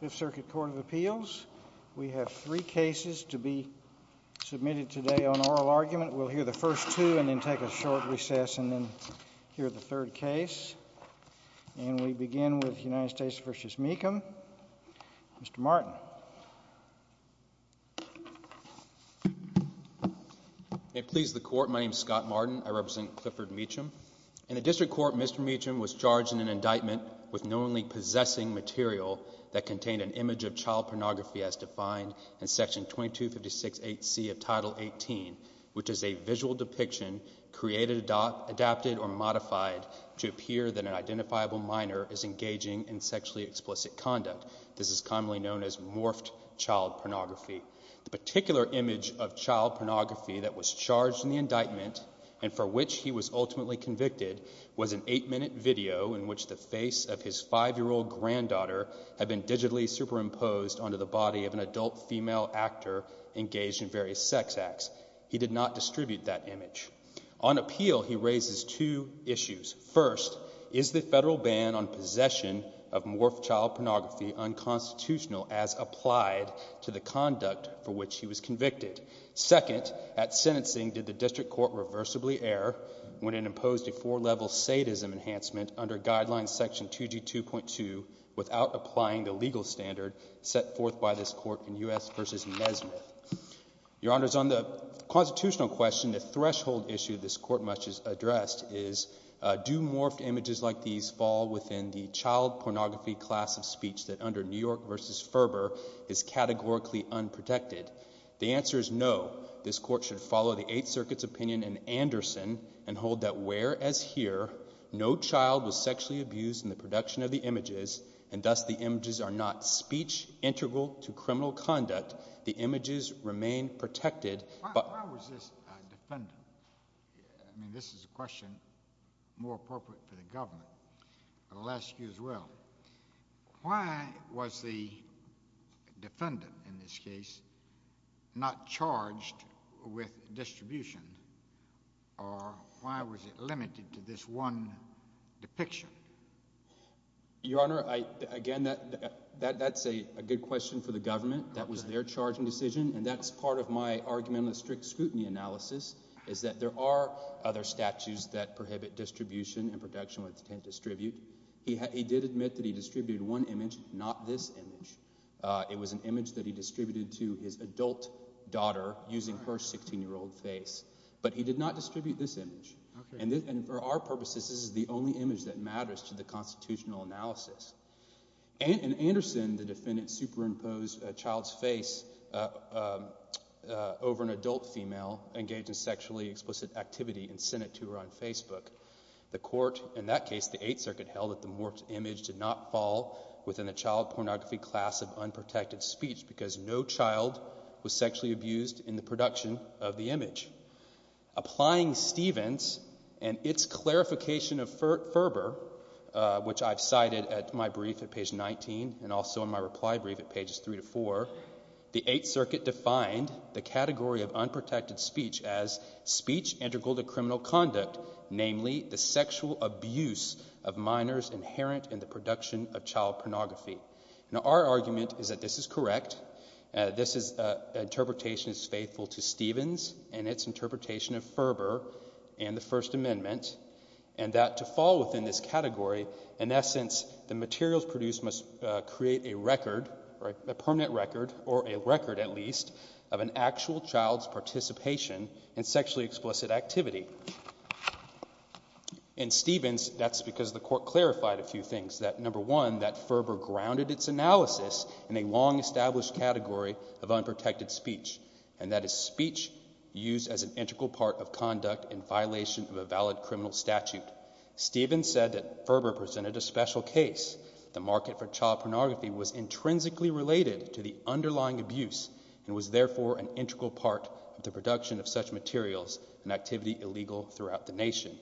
Fifth Circuit Court of Appeals. We have three cases to be submitted today on oral argument. We'll hear the first two and then take a short recess and then hear the third case. And we begin with United States v. Mecham. Mr. Martin. May it please the Court, my name is Scott Martin, I represent Clifford Mecham. In the District Court, Mr. Mecham was charged in an indictment with knowingly possessing material that contained an image of child pornography as defined in Section 2256.8c of Title 18, which is a visual depiction created, adapted, or modified to appear that an identifiable minor is engaging in sexually explicit conduct. This is commonly known as morphed child pornography. The particular image of child pornography that was charged in the indictment and for which he was ultimately convicted was an eight-minute video in which the face of his five-year-old granddaughter had been digitally superimposed onto the body of an adult female actor engaged in various sex acts. He did not distribute that image. On appeal, he raises two issues. First, is the federal ban on possession of morphed child pornography unconstitutional as applied to the conduct for which he was convicted? Second, at sentencing, did the District Court reversibly err when it imposed a four-level sadism enhancement under Guidelines Section 2G2.2 without applying the legal standard set forth by this Court in U.S. v. Nesmith? Your Honors, on the constitutional question, the threshold issue this Court must address is do morphed images like these fall within the child pornography class of speech that under New York v. Ferber is categorically unprotected? The answer is no. This Court should follow the Eighth Circuit's opinion in Anderson and hold that where as here no child was sexually abused in the production of the images and thus the images are not speech integral to criminal conduct, the images remain protected, but... Why was this defendant... I mean, this is a question more appropriate for the government, but I'll ask you as well. Why was the defendant in this case not charged with distribution, or why was it limited to this one depiction? Your Honor, again, that's a good question for the government. That was their charging decision, and that's part of my argument in the strict scrutiny analysis is that there are other statutes that prohibit distribution and production with intent to distribute. He did admit that he distributed one image, not this image. It was an image that he distributed to his adult daughter using her 16-year-old face, but he did not distribute this image, and for our purposes, this is the only image that matters to the constitutional analysis. In Anderson, the defendant superimposed a child's face over an adult female engaged in sexually explicit activity and sent it to her on Facebook. The court in that case, the Eighth Circuit, held that the morphed image did not fall within the child pornography class of unprotected speech because no child was sexually abused in the production of the image. Applying Stevens and its clarification of Ferber, which I've cited at my brief at page 19 and also in my reply brief at pages 3 to 4, the Eighth Circuit defined the category of unprotected speech as speech integral to criminal conduct, namely the sexual abuse of minors inherent in the production of child pornography. Now, our argument is that this is correct. This interpretation is faithful to Stevens and its interpretation of Ferber and the First Amendment and that to fall within this category, in essence, the materials produced must create a record, a permanent record, or a record at least, of an actual child's participation in sexually explicit activity. In Stevens, that's because the court clarified a few things, that number one, that Ferber grounded its analysis in a long established category of unprotected speech and that is speech used as an integral part of conduct in violation of a valid criminal statute. Stevens said that Ferber presented a special case. The market for child pornography was intrinsically related to the underlying abuse and was therefore an integral part of the production of such materials and activity illegal throughout the nation.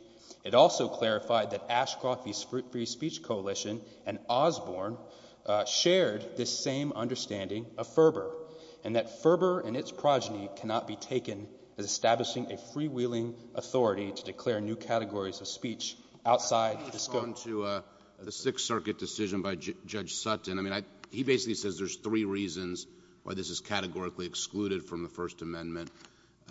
It also clarified that Ashcroft v. Fruit Free Speech Coalition and Osborne shared this same understanding of Ferber and that Ferber and its progeny cannot be taken as establishing a freewheeling authority to declare new categories of speech outside the scope... Let's move on to the Sixth Circuit decision by Judge Sutton. I mean, he basically says there's three reasons why this is categorically excluded from the First Amendment.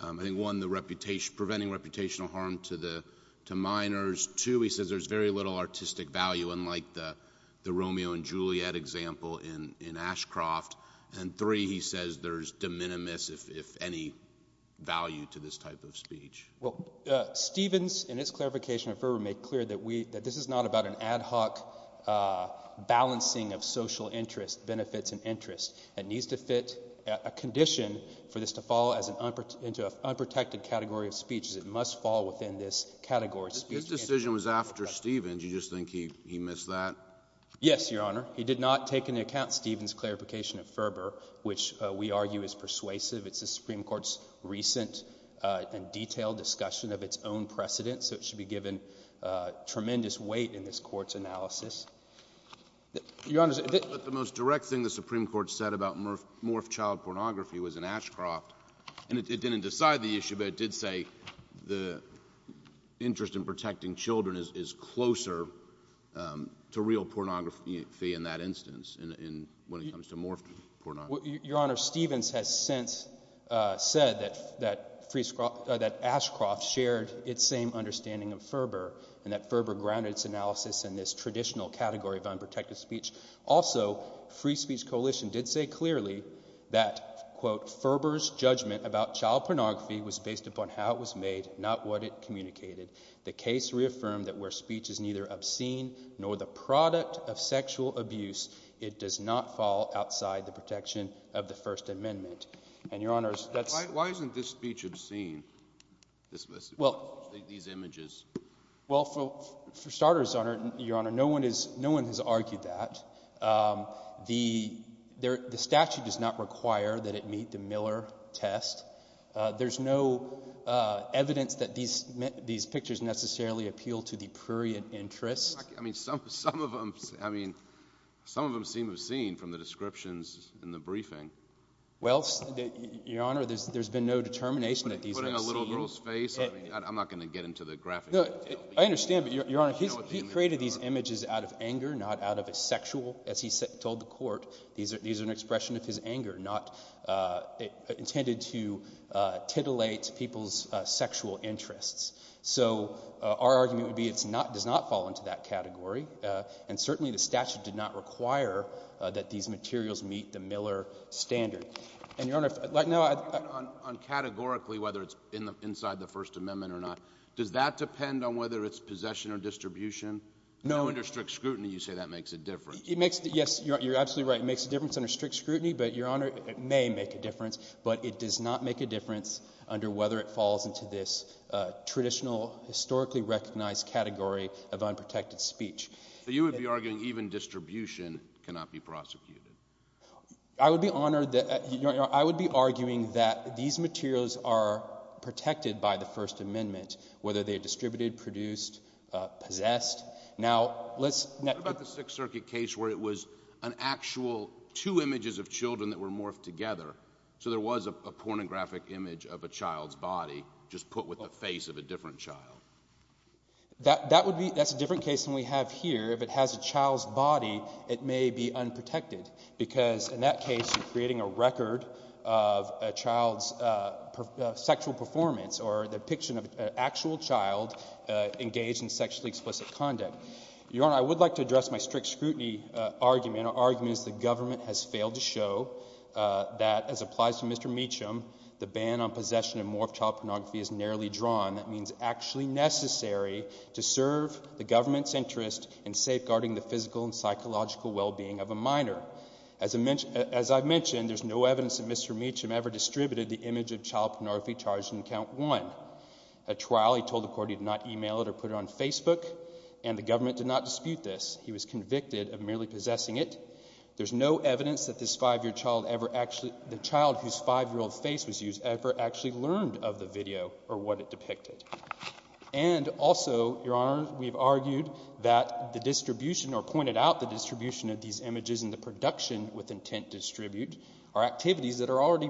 I think, one, the reputation, preventing reputational harm to the, to minors, two, he says there's very little artistic value unlike the Romeo and Juliet example in Ashcroft, and three, he says there's de minimis, if any, value to this type of speech. Well, Stevens, in his clarification of Ferber, made clear that we, that this is not about an ad hoc balancing of social interest, benefits, and interest. It needs to fit a condition for this to fall as an unprotected, into an unprotected category of speech as it must fall within this category of speech. His decision was after Stevens. You just think he, he missed that? Yes, Your Honor. He did not take into account Stevens' clarification of Ferber, which we argue is persuasive. It's the Supreme Court's recent and detailed discussion of its own precedent, so it should be given tremendous weight in this Court's analysis. Your Honor, the most direct thing the Supreme Court said about morphed child pornography was in Ashcroft, and it didn't decide the issue, but it did say the interest in protecting children is closer to real pornography in that instance, when it comes to morphed pornography. Your Honor, Stevens has since said that Ashcroft shared its same understanding of Ferber, and that Ferber grounded its analysis in this traditional category of unprotected speech. Also, Free Speech Coalition did say clearly that, quote, Ferber's judgment about child pornography was based upon how it was made, not what it communicated. The case reaffirmed that where speech is neither obscene nor the product of sexual abuse, it does not fall outside the protection of the First Amendment. And Your Honor, that's— Why isn't this speech obscene, this message, these images? Well, for starters, Your Honor, no one has argued that. The statute does not require that it meet the Miller test. There's no evidence that these pictures necessarily appeal to the prurient interest. I mean, some of them seem obscene from the descriptions in the briefing. Well, Your Honor, there's been no determination that these are obscene. Putting a little girl's face? I mean, I'm not going to get into the graphic detail. No, I understand, but Your Honor, he created these images out of anger, not out of a sexual—as he told the Court, these are an expression of his anger, not—intended to titillate people's sexual interests. So our argument would be it's not—does not fall into that category, and certainly the statute did not require that these materials meet the Miller standard. And Your Honor— On categorically, whether it's inside the First Amendment or not, does that depend on whether it's possession or distribution? No— Under strict scrutiny, you say that makes a difference. It makes—yes, you're absolutely right, it makes a difference under strict scrutiny, but Your Honor, it may make a difference, but it does not make a difference under whether it falls into this traditional, historically recognized category of unprotected speech. So you would be arguing even distribution cannot be prosecuted? I would be honored—I would be arguing that these materials are protected by the First Amendment, whether they're distributed, produced, possessed. Now let's— What about the Sixth Circuit case where it was an actual—two images of children that were morphed together, so there was a pornographic image of a child's body just put with the face of a different child? That would be—that's a different case than we have here. If it has a child's body, it may be unprotected, because in that case, you're creating a record of a child's sexual performance or the depiction of an actual child engaged in sexually explicit conduct. Your Honor, I would like to address my strict scrutiny argument, our argument is the government has failed to show that, as applies to Mr. Meacham, the ban on possession and morphed child pornography is narrowly drawn. That means actually necessary to serve the government's interest in safeguarding the physical and psychological well-being of a minor. As I mentioned, there's no evidence that Mr. Meacham ever distributed the image of child pornography charged in Account 1. A trial, he told the court he did not email it or put it on Facebook, and the government did not dispute this. He was convicted of merely possessing it. There's no evidence that this five-year child ever actually—the child whose five-year-old face was used ever actually learned of the video or what it depicted. And also, Your Honor, we've argued that the distribution or pointed out the distribution of these images in the production with intent to distribute are activities that are already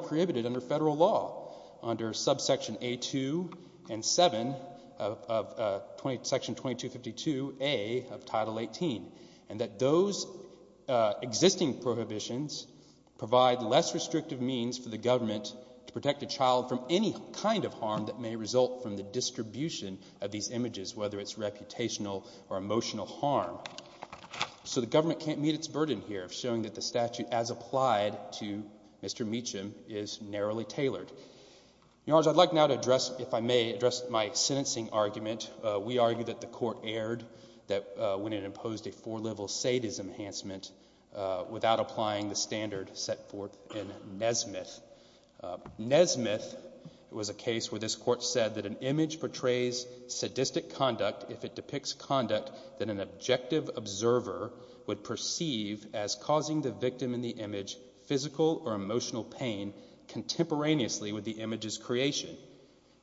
2 and 7 of Section 2252A of Title 18, and that those existing prohibitions provide less restrictive means for the government to protect a child from any kind of harm that may result from the distribution of these images, whether it's reputational or emotional harm. So the government can't meet its burden here of showing that the statute, as applied to Mr. Meacham, is narrowly tailored. Your Honors, I'd like now to address, if I may, address my sentencing argument. We argue that the court erred when it imposed a four-level sadism enhancement without applying the standard set forth in Nesmith. Nesmith was a case where this court said that an image portrays sadistic conduct if it depicts conduct that an objective observer would perceive as causing the victim in the image physical or emotional pain contemporaneously with the image's creation.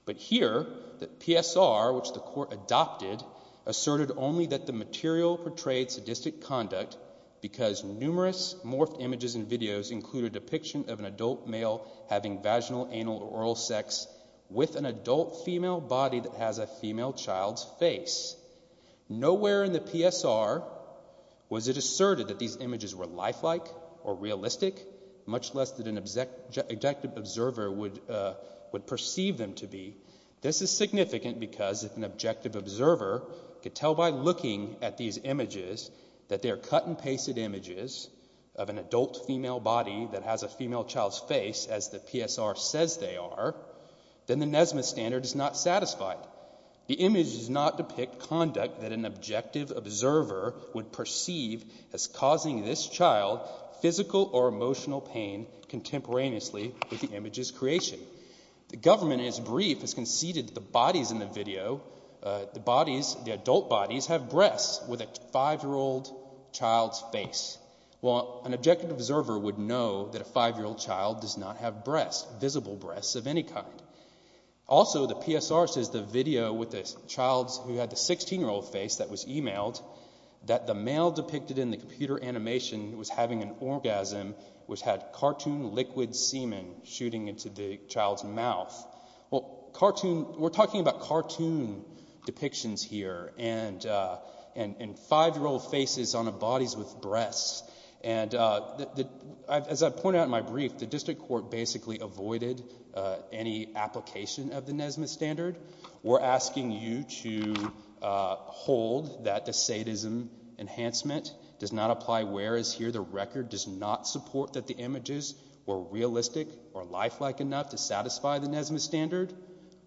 But here, the PSR, which the court adopted, asserted only that the material portrayed sadistic conduct because numerous morphed images and videos include a depiction of an adult male having vaginal, anal, or oral sex with an adult female body that has a female child's face. Nowhere in the PSR was it asserted that these images were lifelike or realistic, much less that an objective observer would perceive them to be. This is significant because if an objective observer could tell by looking at these images that they are cut-and-pasted images of an adult female body that has a female child's face, as the PSR says they are, then the Nesmith standard is not satisfied. The images do not depict conduct that an objective observer would perceive as causing this child physical or emotional pain contemporaneously with the image's creation. The government, in its brief, has conceded that the bodies in the video, the bodies, the adult bodies, have breasts with a five-year-old child's face, while an objective observer would know that a five-year-old child does not have breasts, visible breasts of any kind. Also, the PSR says the video with the child's, who had the 16-year-old face that was emailed, that the male depicted in the computer animation was having an orgasm, which had cartoon liquid semen shooting into the child's mouth. Well, cartoon, we're talking about cartoon depictions here, and five-year-old faces on bodies with breasts. And as I pointed out in my brief, the district court basically avoided any application of the Nesmith standard. We're asking you to hold that the sadism enhancement does not apply, whereas here the record does not support that the images were realistic or lifelike enough to satisfy the Nesmith standard.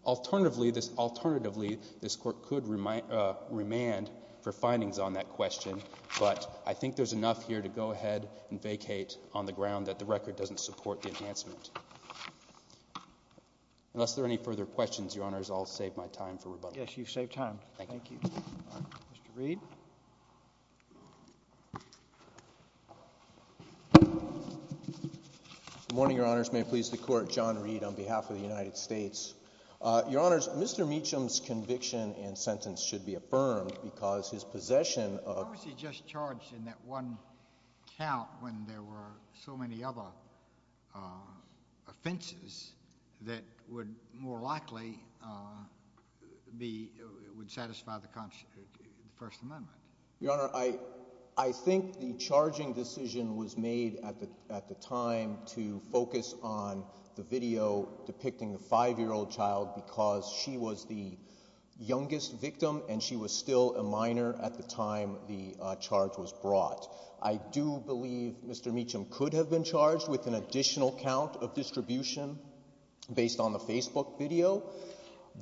Alternatively, this court could remand for findings on that question, but I think there's enough here to go ahead and vacate on the ground that the record doesn't support the enhancement. Unless there are any further questions, Your Honors, I'll save my time for rebuttal. Yes, you've saved time. Thank you. Thank you. Mr. Reed? Good morning, Your Honors. May it please the Court, John Reed on behalf of the United States. Your Honors, Mr. Meacham's conviction and sentence should be affirmed because his possession of— Why was he just charged in that one count when there were so many other offenses that would more likely be—would satisfy the First Amendment? Your Honor, I think the charging decision was made at the time to focus on the video depicting a 5-year-old child because she was the youngest victim and she was still a minor at the time the charge was brought. I do believe Mr. Meacham could have been charged with an additional count of distribution based on the Facebook video.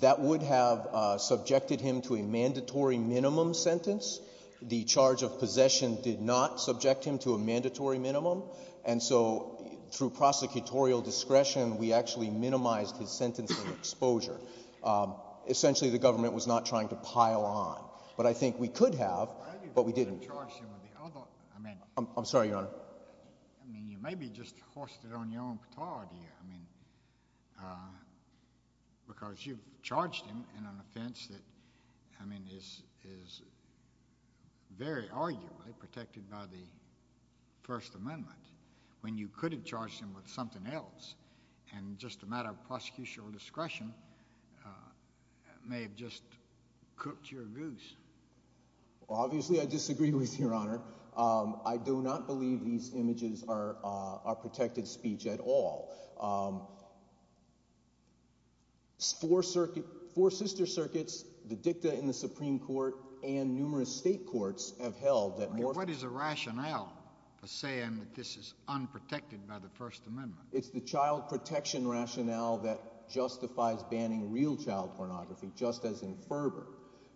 That would have subjected him to a mandatory minimum sentence. The charge of possession did not subject him to a mandatory minimum. And so through prosecutorial discretion, we actually minimized his sentencing exposure. Essentially, the government was not trying to pile on. But I think we could have, but we didn't. I mean— I'm sorry, Your Honor. I mean, you may be just hoisted on your own patard here. I mean, because you've charged him in an offense that, I mean, is very arguably protected by the First Amendment when you could have charged him with something else, and just a matter of prosecutorial discretion may have just cooked your goose. Obviously, I disagree with you, Your Honor. I do not believe these images are protected speech at all. Four circuit—four sister circuits, the dicta in the Supreme Court, and numerous state courts have held that— I mean, what is the rationale for saying that this is unprotected by the First Amendment? It's the child protection rationale that justifies banning real child pornography, just as in Ferber,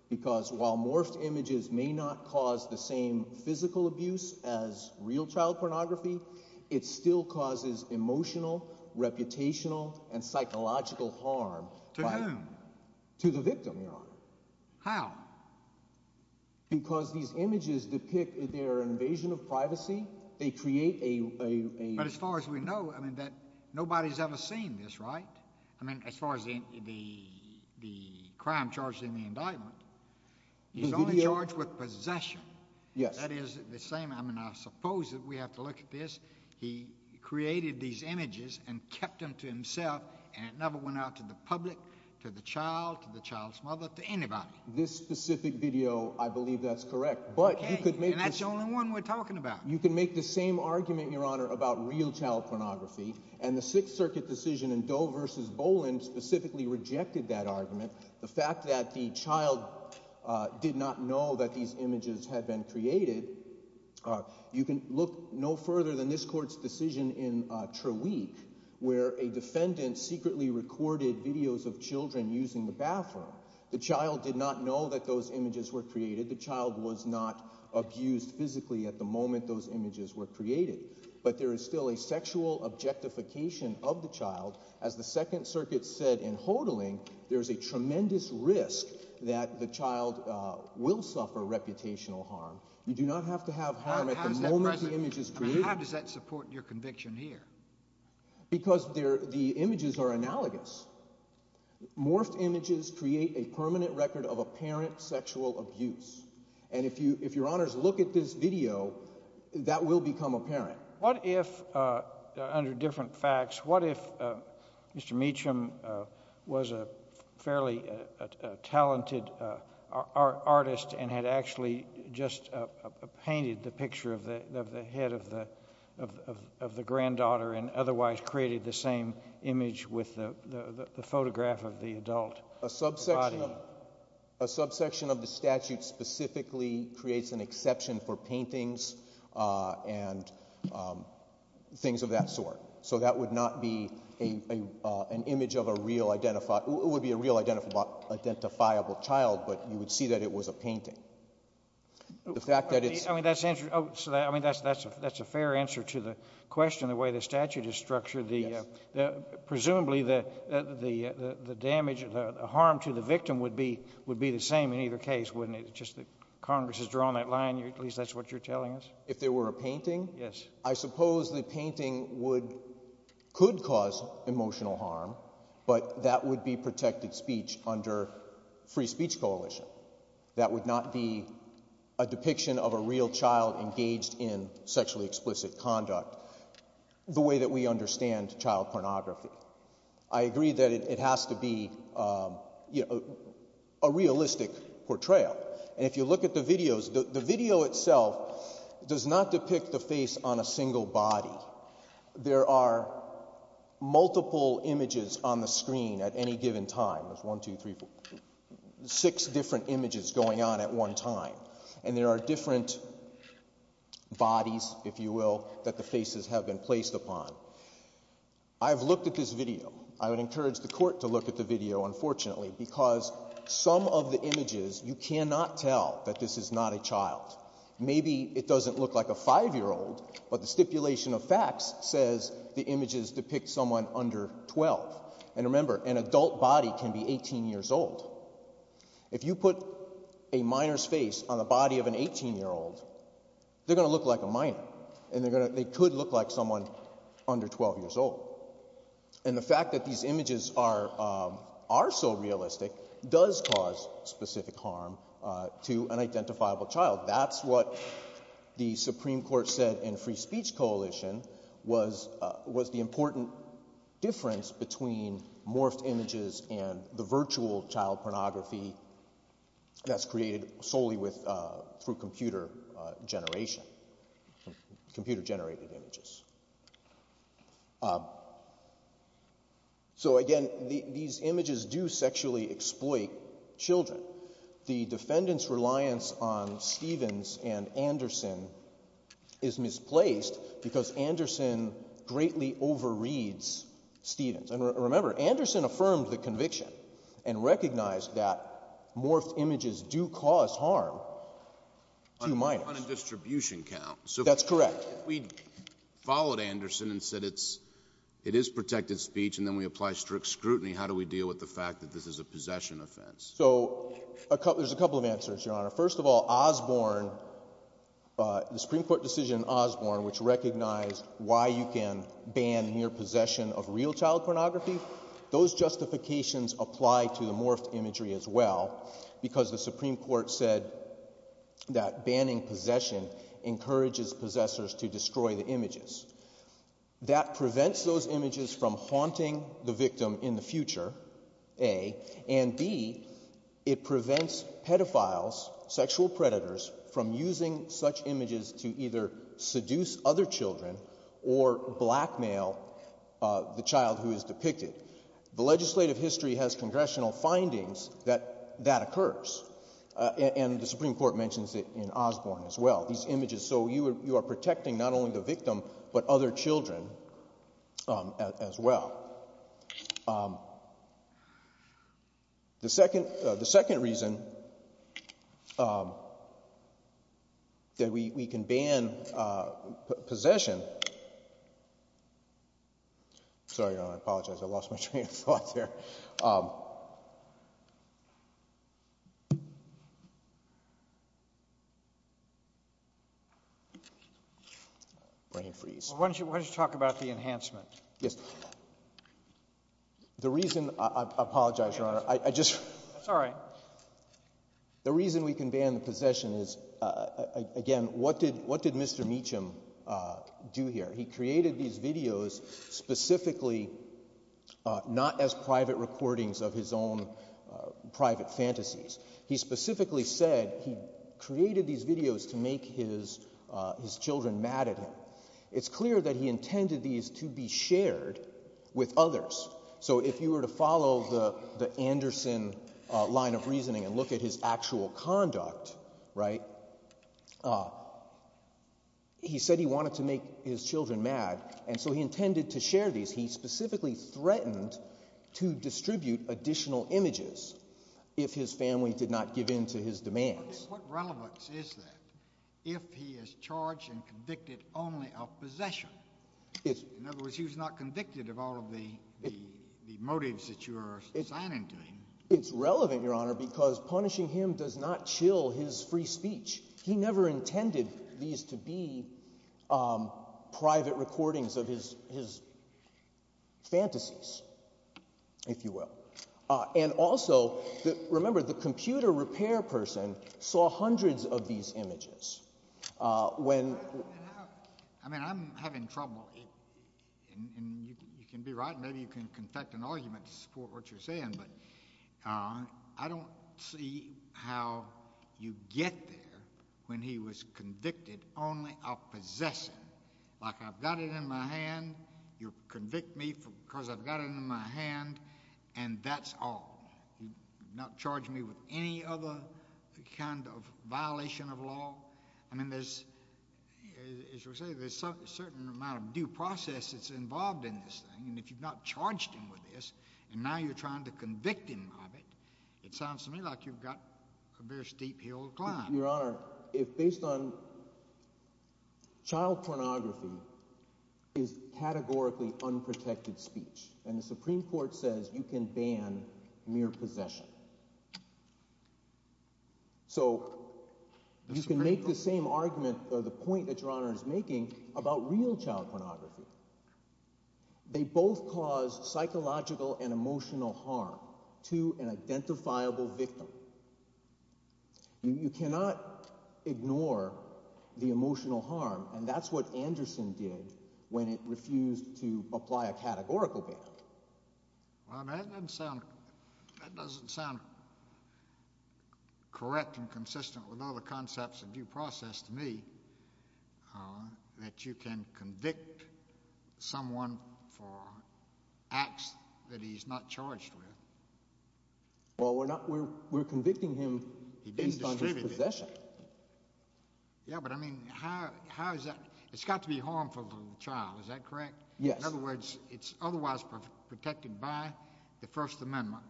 because while morphed images may not cause the same physical abuse as real child pornography, it still causes emotional, reputational, and psychological harm— To whom? To the victim, Your Honor. How? Because these images depict their invasion of privacy. They create a— But as far as we know, I mean, that nobody's ever seen this, right? I mean, as far as the crime charged in the indictment, he's only charged with possession. Yes. That is the same—I mean, I suppose that we have to look at this. He created these images and kept them to himself, and it never went out to the public, to the child, to the child's mother, to anybody. This specific video, I believe that's correct, but you could make this— And that's the only one we're talking about. You can make the same argument, Your Honor, about real child pornography, and the Sixth Circuit decision in Doe v. Boland specifically rejected that argument. The fact that the child did not know that these images had been created, you can look no further than this court's decision in Trawick, where a defendant secretly recorded videos of children using the bathroom. The child did not know that those images were created. The child was not abused physically at the moment those images were created. But there is still a sexual objectification of the child. As the Second Circuit said in Hodling, there is a tremendous risk that the child will suffer reputational harm. You do not have to have harm at the moment the image is created. How does that support your conviction here? Because the images are analogous. Morphed images create a permanent record of apparent sexual abuse. And if Your Honors look at this video, that will become apparent. What if, under different facts, what if Mr. Meacham was a fairly talented artist and had actually just painted the picture of the head of the granddaughter and otherwise created the same image with the photograph of the adult body? A subsection of the statute specifically creates an exception for paintings and things of that sort. So that would not be an image of a real, it would be a real identifiable child, but you would see that it was a painting. The fact that it's— I mean, that's a fair answer to the question, the way the statute is structured. Presumably the damage, the harm to the victim would be the same in either case, wouldn't it? Just that Congress has drawn that line, at least that's what you're telling us. If there were a painting? Yes. I suppose the painting could cause emotional harm, but that would be protected speech under Free Speech Coalition. That would not be a depiction of a real child engaged in sexually explicit conduct the way that we understand child pornography. I agree that it has to be a realistic portrayal, and if you look at the videos, the video itself does not depict the face on a single body. There are multiple images on the screen at any given time, there's one, two, three, four, six different images going on at one time, and there are different bodies, if you will, that the faces have been placed upon. I've looked at this video, I would encourage the court to look at the video, unfortunately, because some of the images, you cannot tell that this is not a child. Maybe it doesn't look like a five-year-old, but the stipulation of facts says the images depict someone under 12, and remember, an adult body can be 18 years old. If you put a minor's face on the body of an 18-year-old, they're going to look like a minor, and they could look like someone under 12 years old. And the fact that these images are so realistic does cause specific harm to an identifiable child. That's what the Supreme Court said in Free Speech Coalition was the important difference between morphed images and the virtual child pornography that's created solely through computer generation, computer-generated images. So again, these images do sexually exploit children. The defendant's reliance on Stevens and Anderson is misplaced because Anderson greatly overreads Stevens. And remember, Anderson affirmed the conviction and recognized that morphed images do cause harm to minors. On a distribution count. That's correct. If we followed Anderson and said it is protected speech and then we apply strict scrutiny, how do we deal with the fact that this is a possession offense? So there's a couple of answers, Your Honor. First of all, Osborne, the Supreme Court decision in Osborne, which recognized why you can ban near possession of real child pornography, those justifications apply to the morphed imagery as well, because the Supreme Court said that banning possession encourages possessors to destroy the images. That prevents those images from haunting the victim in the future, A, and B, it prevents pedophiles, sexual predators, from using such images to either seduce other children or blackmail the child who is depicted. The legislative history has congressional findings that that occurs. And the Supreme Court mentions it in Osborne as well, these images. So you are protecting not only the victim, but other children as well. The second reason that we can ban possession, sorry Your Honor, I apologize, I lost my train of thought there. Brain freeze. Why don't you talk about the enhancement? The reason, I apologize, Your Honor, I just, that's all right. The reason we can ban possession is, again, what did Mr. Meacham do here? He created these videos specifically not as private recordings of his own private fantasies. He specifically said he created these videos to make his children mad at him. It's clear that he intended these to be shared with others. So if you were to follow the Anderson line of reasoning and look at his actual conduct, right, he said he wanted to make his children mad. And so he intended to share these. He specifically threatened to distribute additional images if his family did not give in to his demands. What relevance is that if he is charged and convicted only of possession? In other words, he was not convicted of all of the motives that you are assigning to him. It's relevant, Your Honor, because punishing him does not chill his free speech. He never intended these to be private recordings of his fantasies, if you will. And also, remember, the computer repair person saw hundreds of these images. I mean, I'm having trouble, and you can be right, and maybe you can confect an argument to support what you're saying, but I don't see how you get there when he was convicted only of possession. Like, I've got it in my hand, you'll convict me because I've got it in my hand, and that's all. He did not charge me with any other kind of violation of law. I mean, as you say, there's a certain amount of due process that's involved in this thing, and if you've not charged him with this, and now you're trying to convict him of it, it sounds to me like you've got a very steep hill to climb. Your Honor, if based on child pornography is categorically unprotected speech, and the Supreme Court says you can ban mere possession, so you can make the same argument or the point that Your Honor is making about real child pornography. They both cause psychological and emotional harm to an identifiable victim. You cannot ignore the emotional harm, and that's what Anderson did when it refused to apply a categorical ban. Well, I mean, that doesn't sound correct and consistent with all the concepts of due process to me that you can convict someone for acts that he's not charged with. Well, we're not—we're convicting him based on his possession. Yeah, but I mean, how is that—it's got to be harmful to the child, is that correct? Yes. In other words, it's otherwise protected by the First Amendment,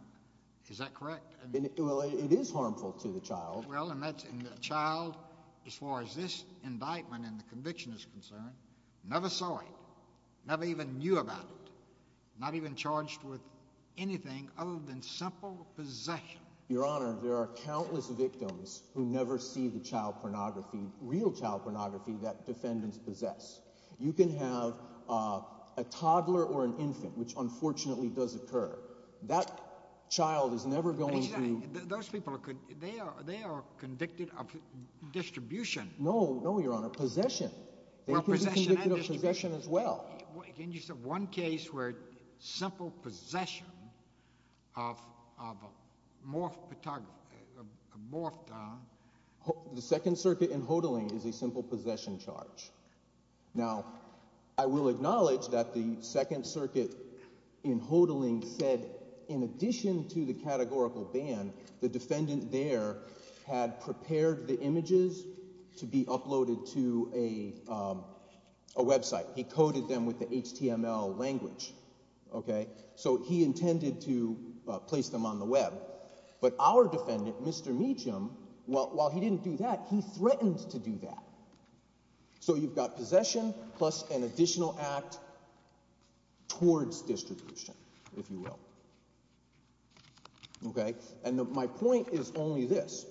is that correct? Well, it is harmful to the child. Well, and that's—and the child, as far as this indictment and the conviction is concerned, never saw it, never even knew about it, not even charged with anything other than simple possession. Your Honor, there are countless victims who never see the child pornography, real child pornography that defendants possess. You can have a toddler or an infant, which unfortunately does occur, that child is never going to— Those people, they are convicted of distribution. No, no, Your Honor, possession. They could be convicted of possession as well. Can you say one case where simple possession of morphed— The Second Circuit in Hodling is a simple possession charge. Now, I will acknowledge that the Second Circuit in Hodling said in addition to the categorical ban, the defendant there had prepared the images to be uploaded to a website. He coded them with the HTML language, okay? So he intended to place them on the web. But our defendant, Mr. Meacham, while he didn't do that, he threatened to do that. So you've got possession plus an additional act towards distribution, if you will. Okay? And my point is only this.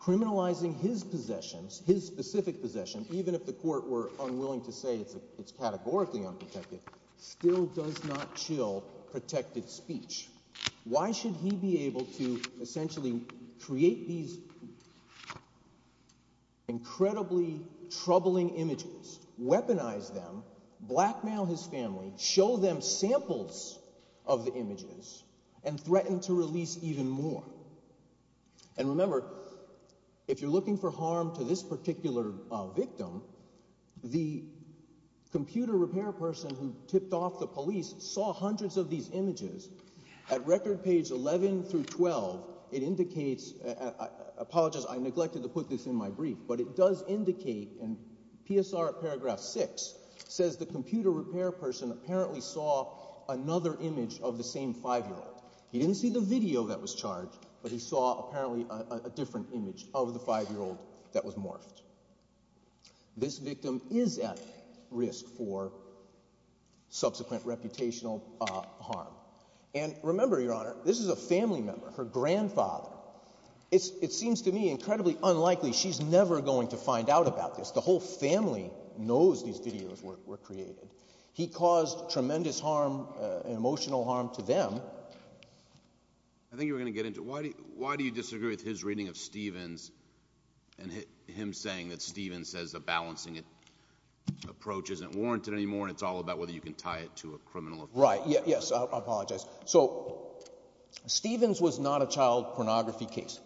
Criminalizing his possessions, his specific possession, even if the court were unwilling to say it's categorically unprotected, still does not chill protected speech. Why should he be able to essentially create these incredibly troubling images, weaponize them, blackmail his family, show them samples of the images, and threaten to release even more? And remember, if you're looking for harm to this particular victim, the computer repair person who tipped off the police saw hundreds of these images. At record page 11 through 12, it indicates, I apologize, I neglected to put this in my brief, but it does indicate in PSR paragraph 6, says the computer repair person apparently saw another image of the same five-year-old. He didn't see the video that was charged, but he saw apparently a different image of the five-year-old that was morphed. This victim is at risk for subsequent reputational harm. And remember, Your Honor, this is a family member, her grandfather. It seems to me incredibly unlikely she's never going to find out about this. The whole family knows these videos were created. He caused tremendous harm, emotional harm to them. I think you were going to get into, why do you disagree with his reading of Stevens and him saying that Stevens says a balancing approach isn't warranted anymore and it's all about whether you can tie it to a criminal offense? Right, yes, I apologize. So, Stevens was not a child pornography case.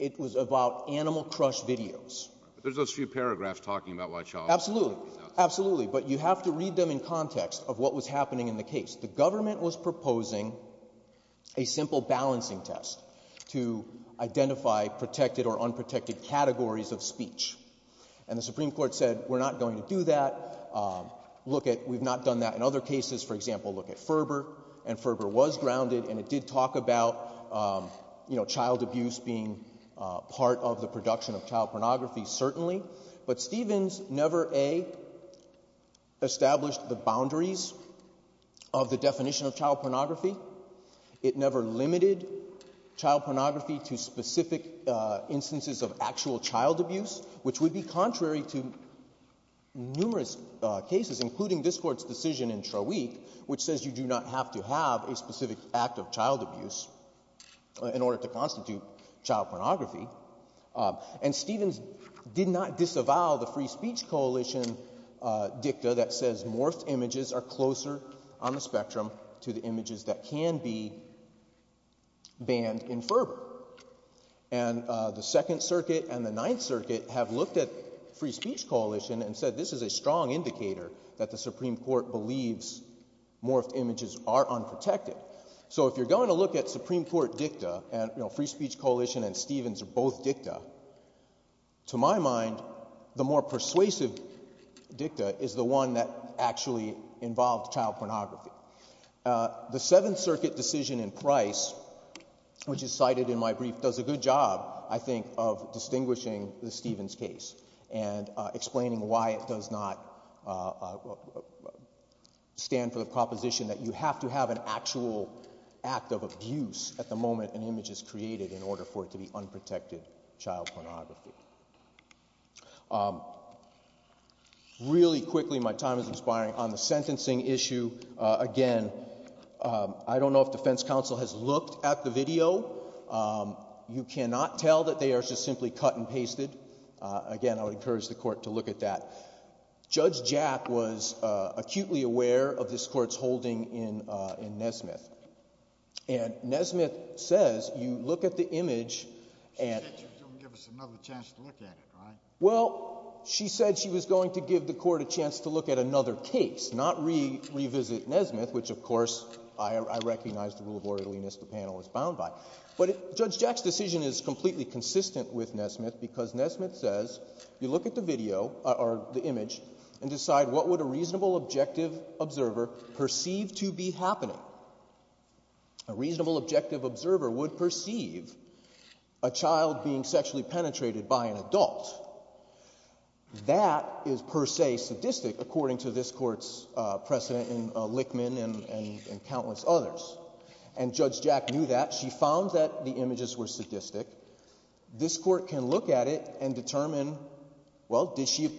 It was about animal crush videos. There's those few paragraphs talking about why child pornography... Absolutely, absolutely, but you have to read them in context of what was happening in the case. The government was proposing a simple balancing test to identify protected or unprotected categories of speech. And the Supreme Court said, we're not going to do that. We've not done that in other cases. For example, look at Ferber, and Ferber was grounded and it did talk about child abuse being part of the production of child pornography, certainly. But Stevens never, A, established the boundaries of the definition of child pornography. It never limited child pornography to specific instances of actual child abuse, which would be contrary to numerous cases, including this court's decision in Trawick, which says you do not have to have a specific act of child abuse in order to constitute child pornography. And Stevens did not disavow the Free Speech Coalition dicta that says morphed images are closer on the spectrum to the images that can be banned in Ferber. And the Second Circuit and the Ninth Circuit have looked at Free Speech Coalition and said this is a strong indicator that the Supreme Court believes morphed images are unprotected. So if you're going to look at Supreme Court dicta, and Free Speech Coalition and Stevens are both dicta, to my mind, the more persuasive dicta is the one that actually involved child pornography. The Seventh Circuit decision in Price, which is cited in my brief, does a good job, I think, of distinguishing the Stevens case and explaining why it does not stand for the proposition that you have to have an actual act of abuse at the moment an image is created in order for it to be unprotected child pornography. Really quickly, my time is expiring on the sentencing issue. Again, I don't know if defense counsel has looked at the video. You cannot tell that they are just simply cut and pasted. Again, I would encourage the court to look at that. Judge Jack was acutely aware of this court's holding in Nesmith. And Nesmith says you look at the image... She said she was going to give us another chance to look at it, right? Well, she said she was going to give the court a chance to look at another case, not revisit Nesmith, which of course I recognize the rule of orderliness the panel is bound by. But Judge Jack's decision is completely consistent with Nesmith, because Nesmith says you look at the video, or the image, and decide what would a reasonable objective observer perceive to be happening. A reasonable objective observer would perceive a child being sexually penetrated by an adult. That is per se sadistic according to this court's precedent in Lickman and countless others. And Judge Jack knew that. She found that the images were sadistic. This court can look at it and determine, well, did she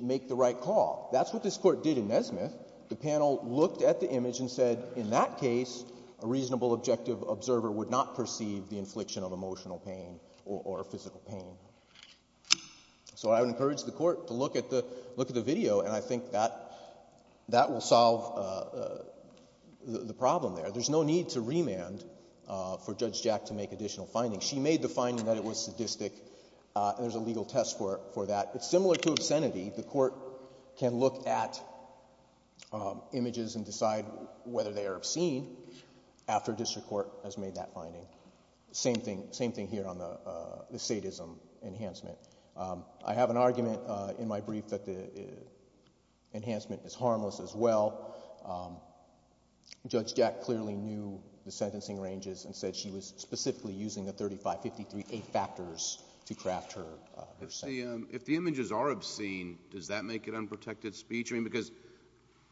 make the right call? That's what this court did in Nesmith. The panel looked at the image and said in that case, a reasonable objective observer would not perceive the infliction of emotional pain or physical pain. So I would encourage the court to look at the video, and I think that will solve the problem there. There's no need to remand for Judge Jack to make additional findings. She made the finding that it was sadistic, and there's a legal test for that. It's similar to obscenity. The court can look at images and decide whether they are obscene after a district court has made that finding. Same thing here on the sadism enhancement. I have an argument in my brief that the enhancement is harmless as well. Judge Jack clearly knew the sentencing ranges and said she was specifically using the 35, 53, 8 factors to craft her sentence. If the images are obscene, does that make it unprotected speech? Because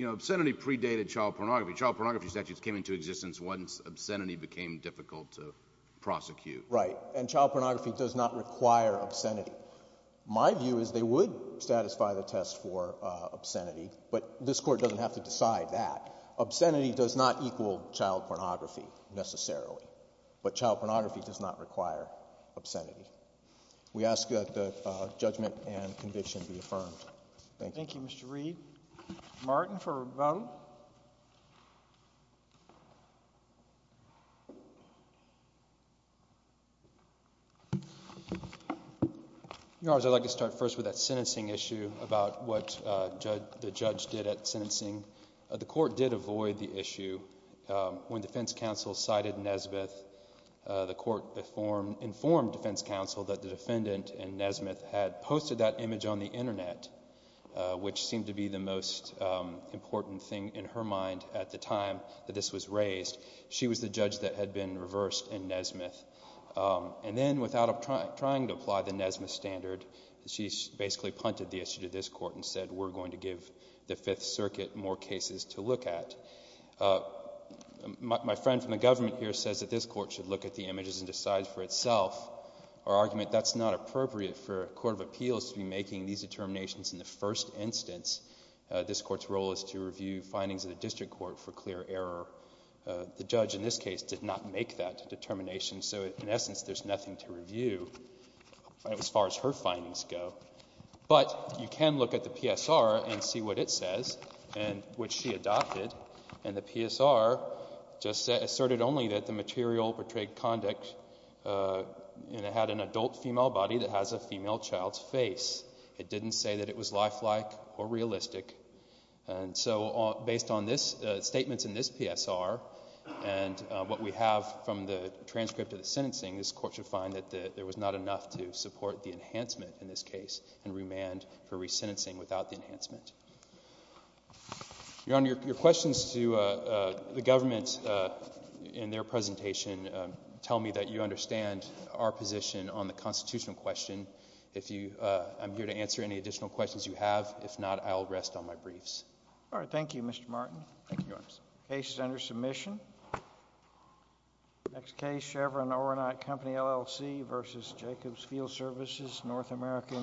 obscenity predated child pornography. Child pornography statutes came into existence once obscenity became difficult to prosecute. Right, and child pornography does not require obscenity. My view is they would satisfy the test for obscenity, but this court doesn't have to decide that. Obscenity does not equal child pornography necessarily, but child pornography does not require obscenity. We ask that the judgment and conviction be affirmed. Thank you. Thank you, Mr. Reed. Martin for rebuttal. Your Honors, I'd like to start first with that sentencing issue about what the judge did at sentencing. The court did avoid the issue. When defense counsel cited Nesbitt, the court informed defense counsel that the defendant in Nesbitt had posted that image on the internet, which seemed to be the most important thing in her mind at the time that this was raised. She was the judge that had been reversed in Nesbitt. And then without trying to apply the Nesbitt standard, she basically punted the issue to this court and said we're going to give the Fifth Circuit more cases to look at. My friend from the government here says that this court should look at the images and decide for itself. Our argument, that's not appropriate for a court of appeals to be making these determinations in the first instance. This court's role is to review findings of the district court for clear error. The judge in this case did not make that determination, so in essence there's nothing to review as far as her findings go. But you can look at the PSR and see what it says, which she adopted. And the PSR just asserted only that the material portrayed conduct had an adult female body that has a female child's face. It didn't say that it was lifelike or realistic. And so based on statements in this PSR and what we have from the transcript of the sentencing, this court should find that there was not enough to support the enhancement in this case and remand for resentencing without the enhancement. Your Honor, your questions to the government in their presentation tell me that you understand our position on the constitutional question. I'm here to answer any additional questions you have. If not, I'll rest on my briefs. All right. Thank you, Mr. Martin. The case is under submission. Next case, Chevron Overnight Company, LLC v. Jacobs Field Services, North America Incorporated.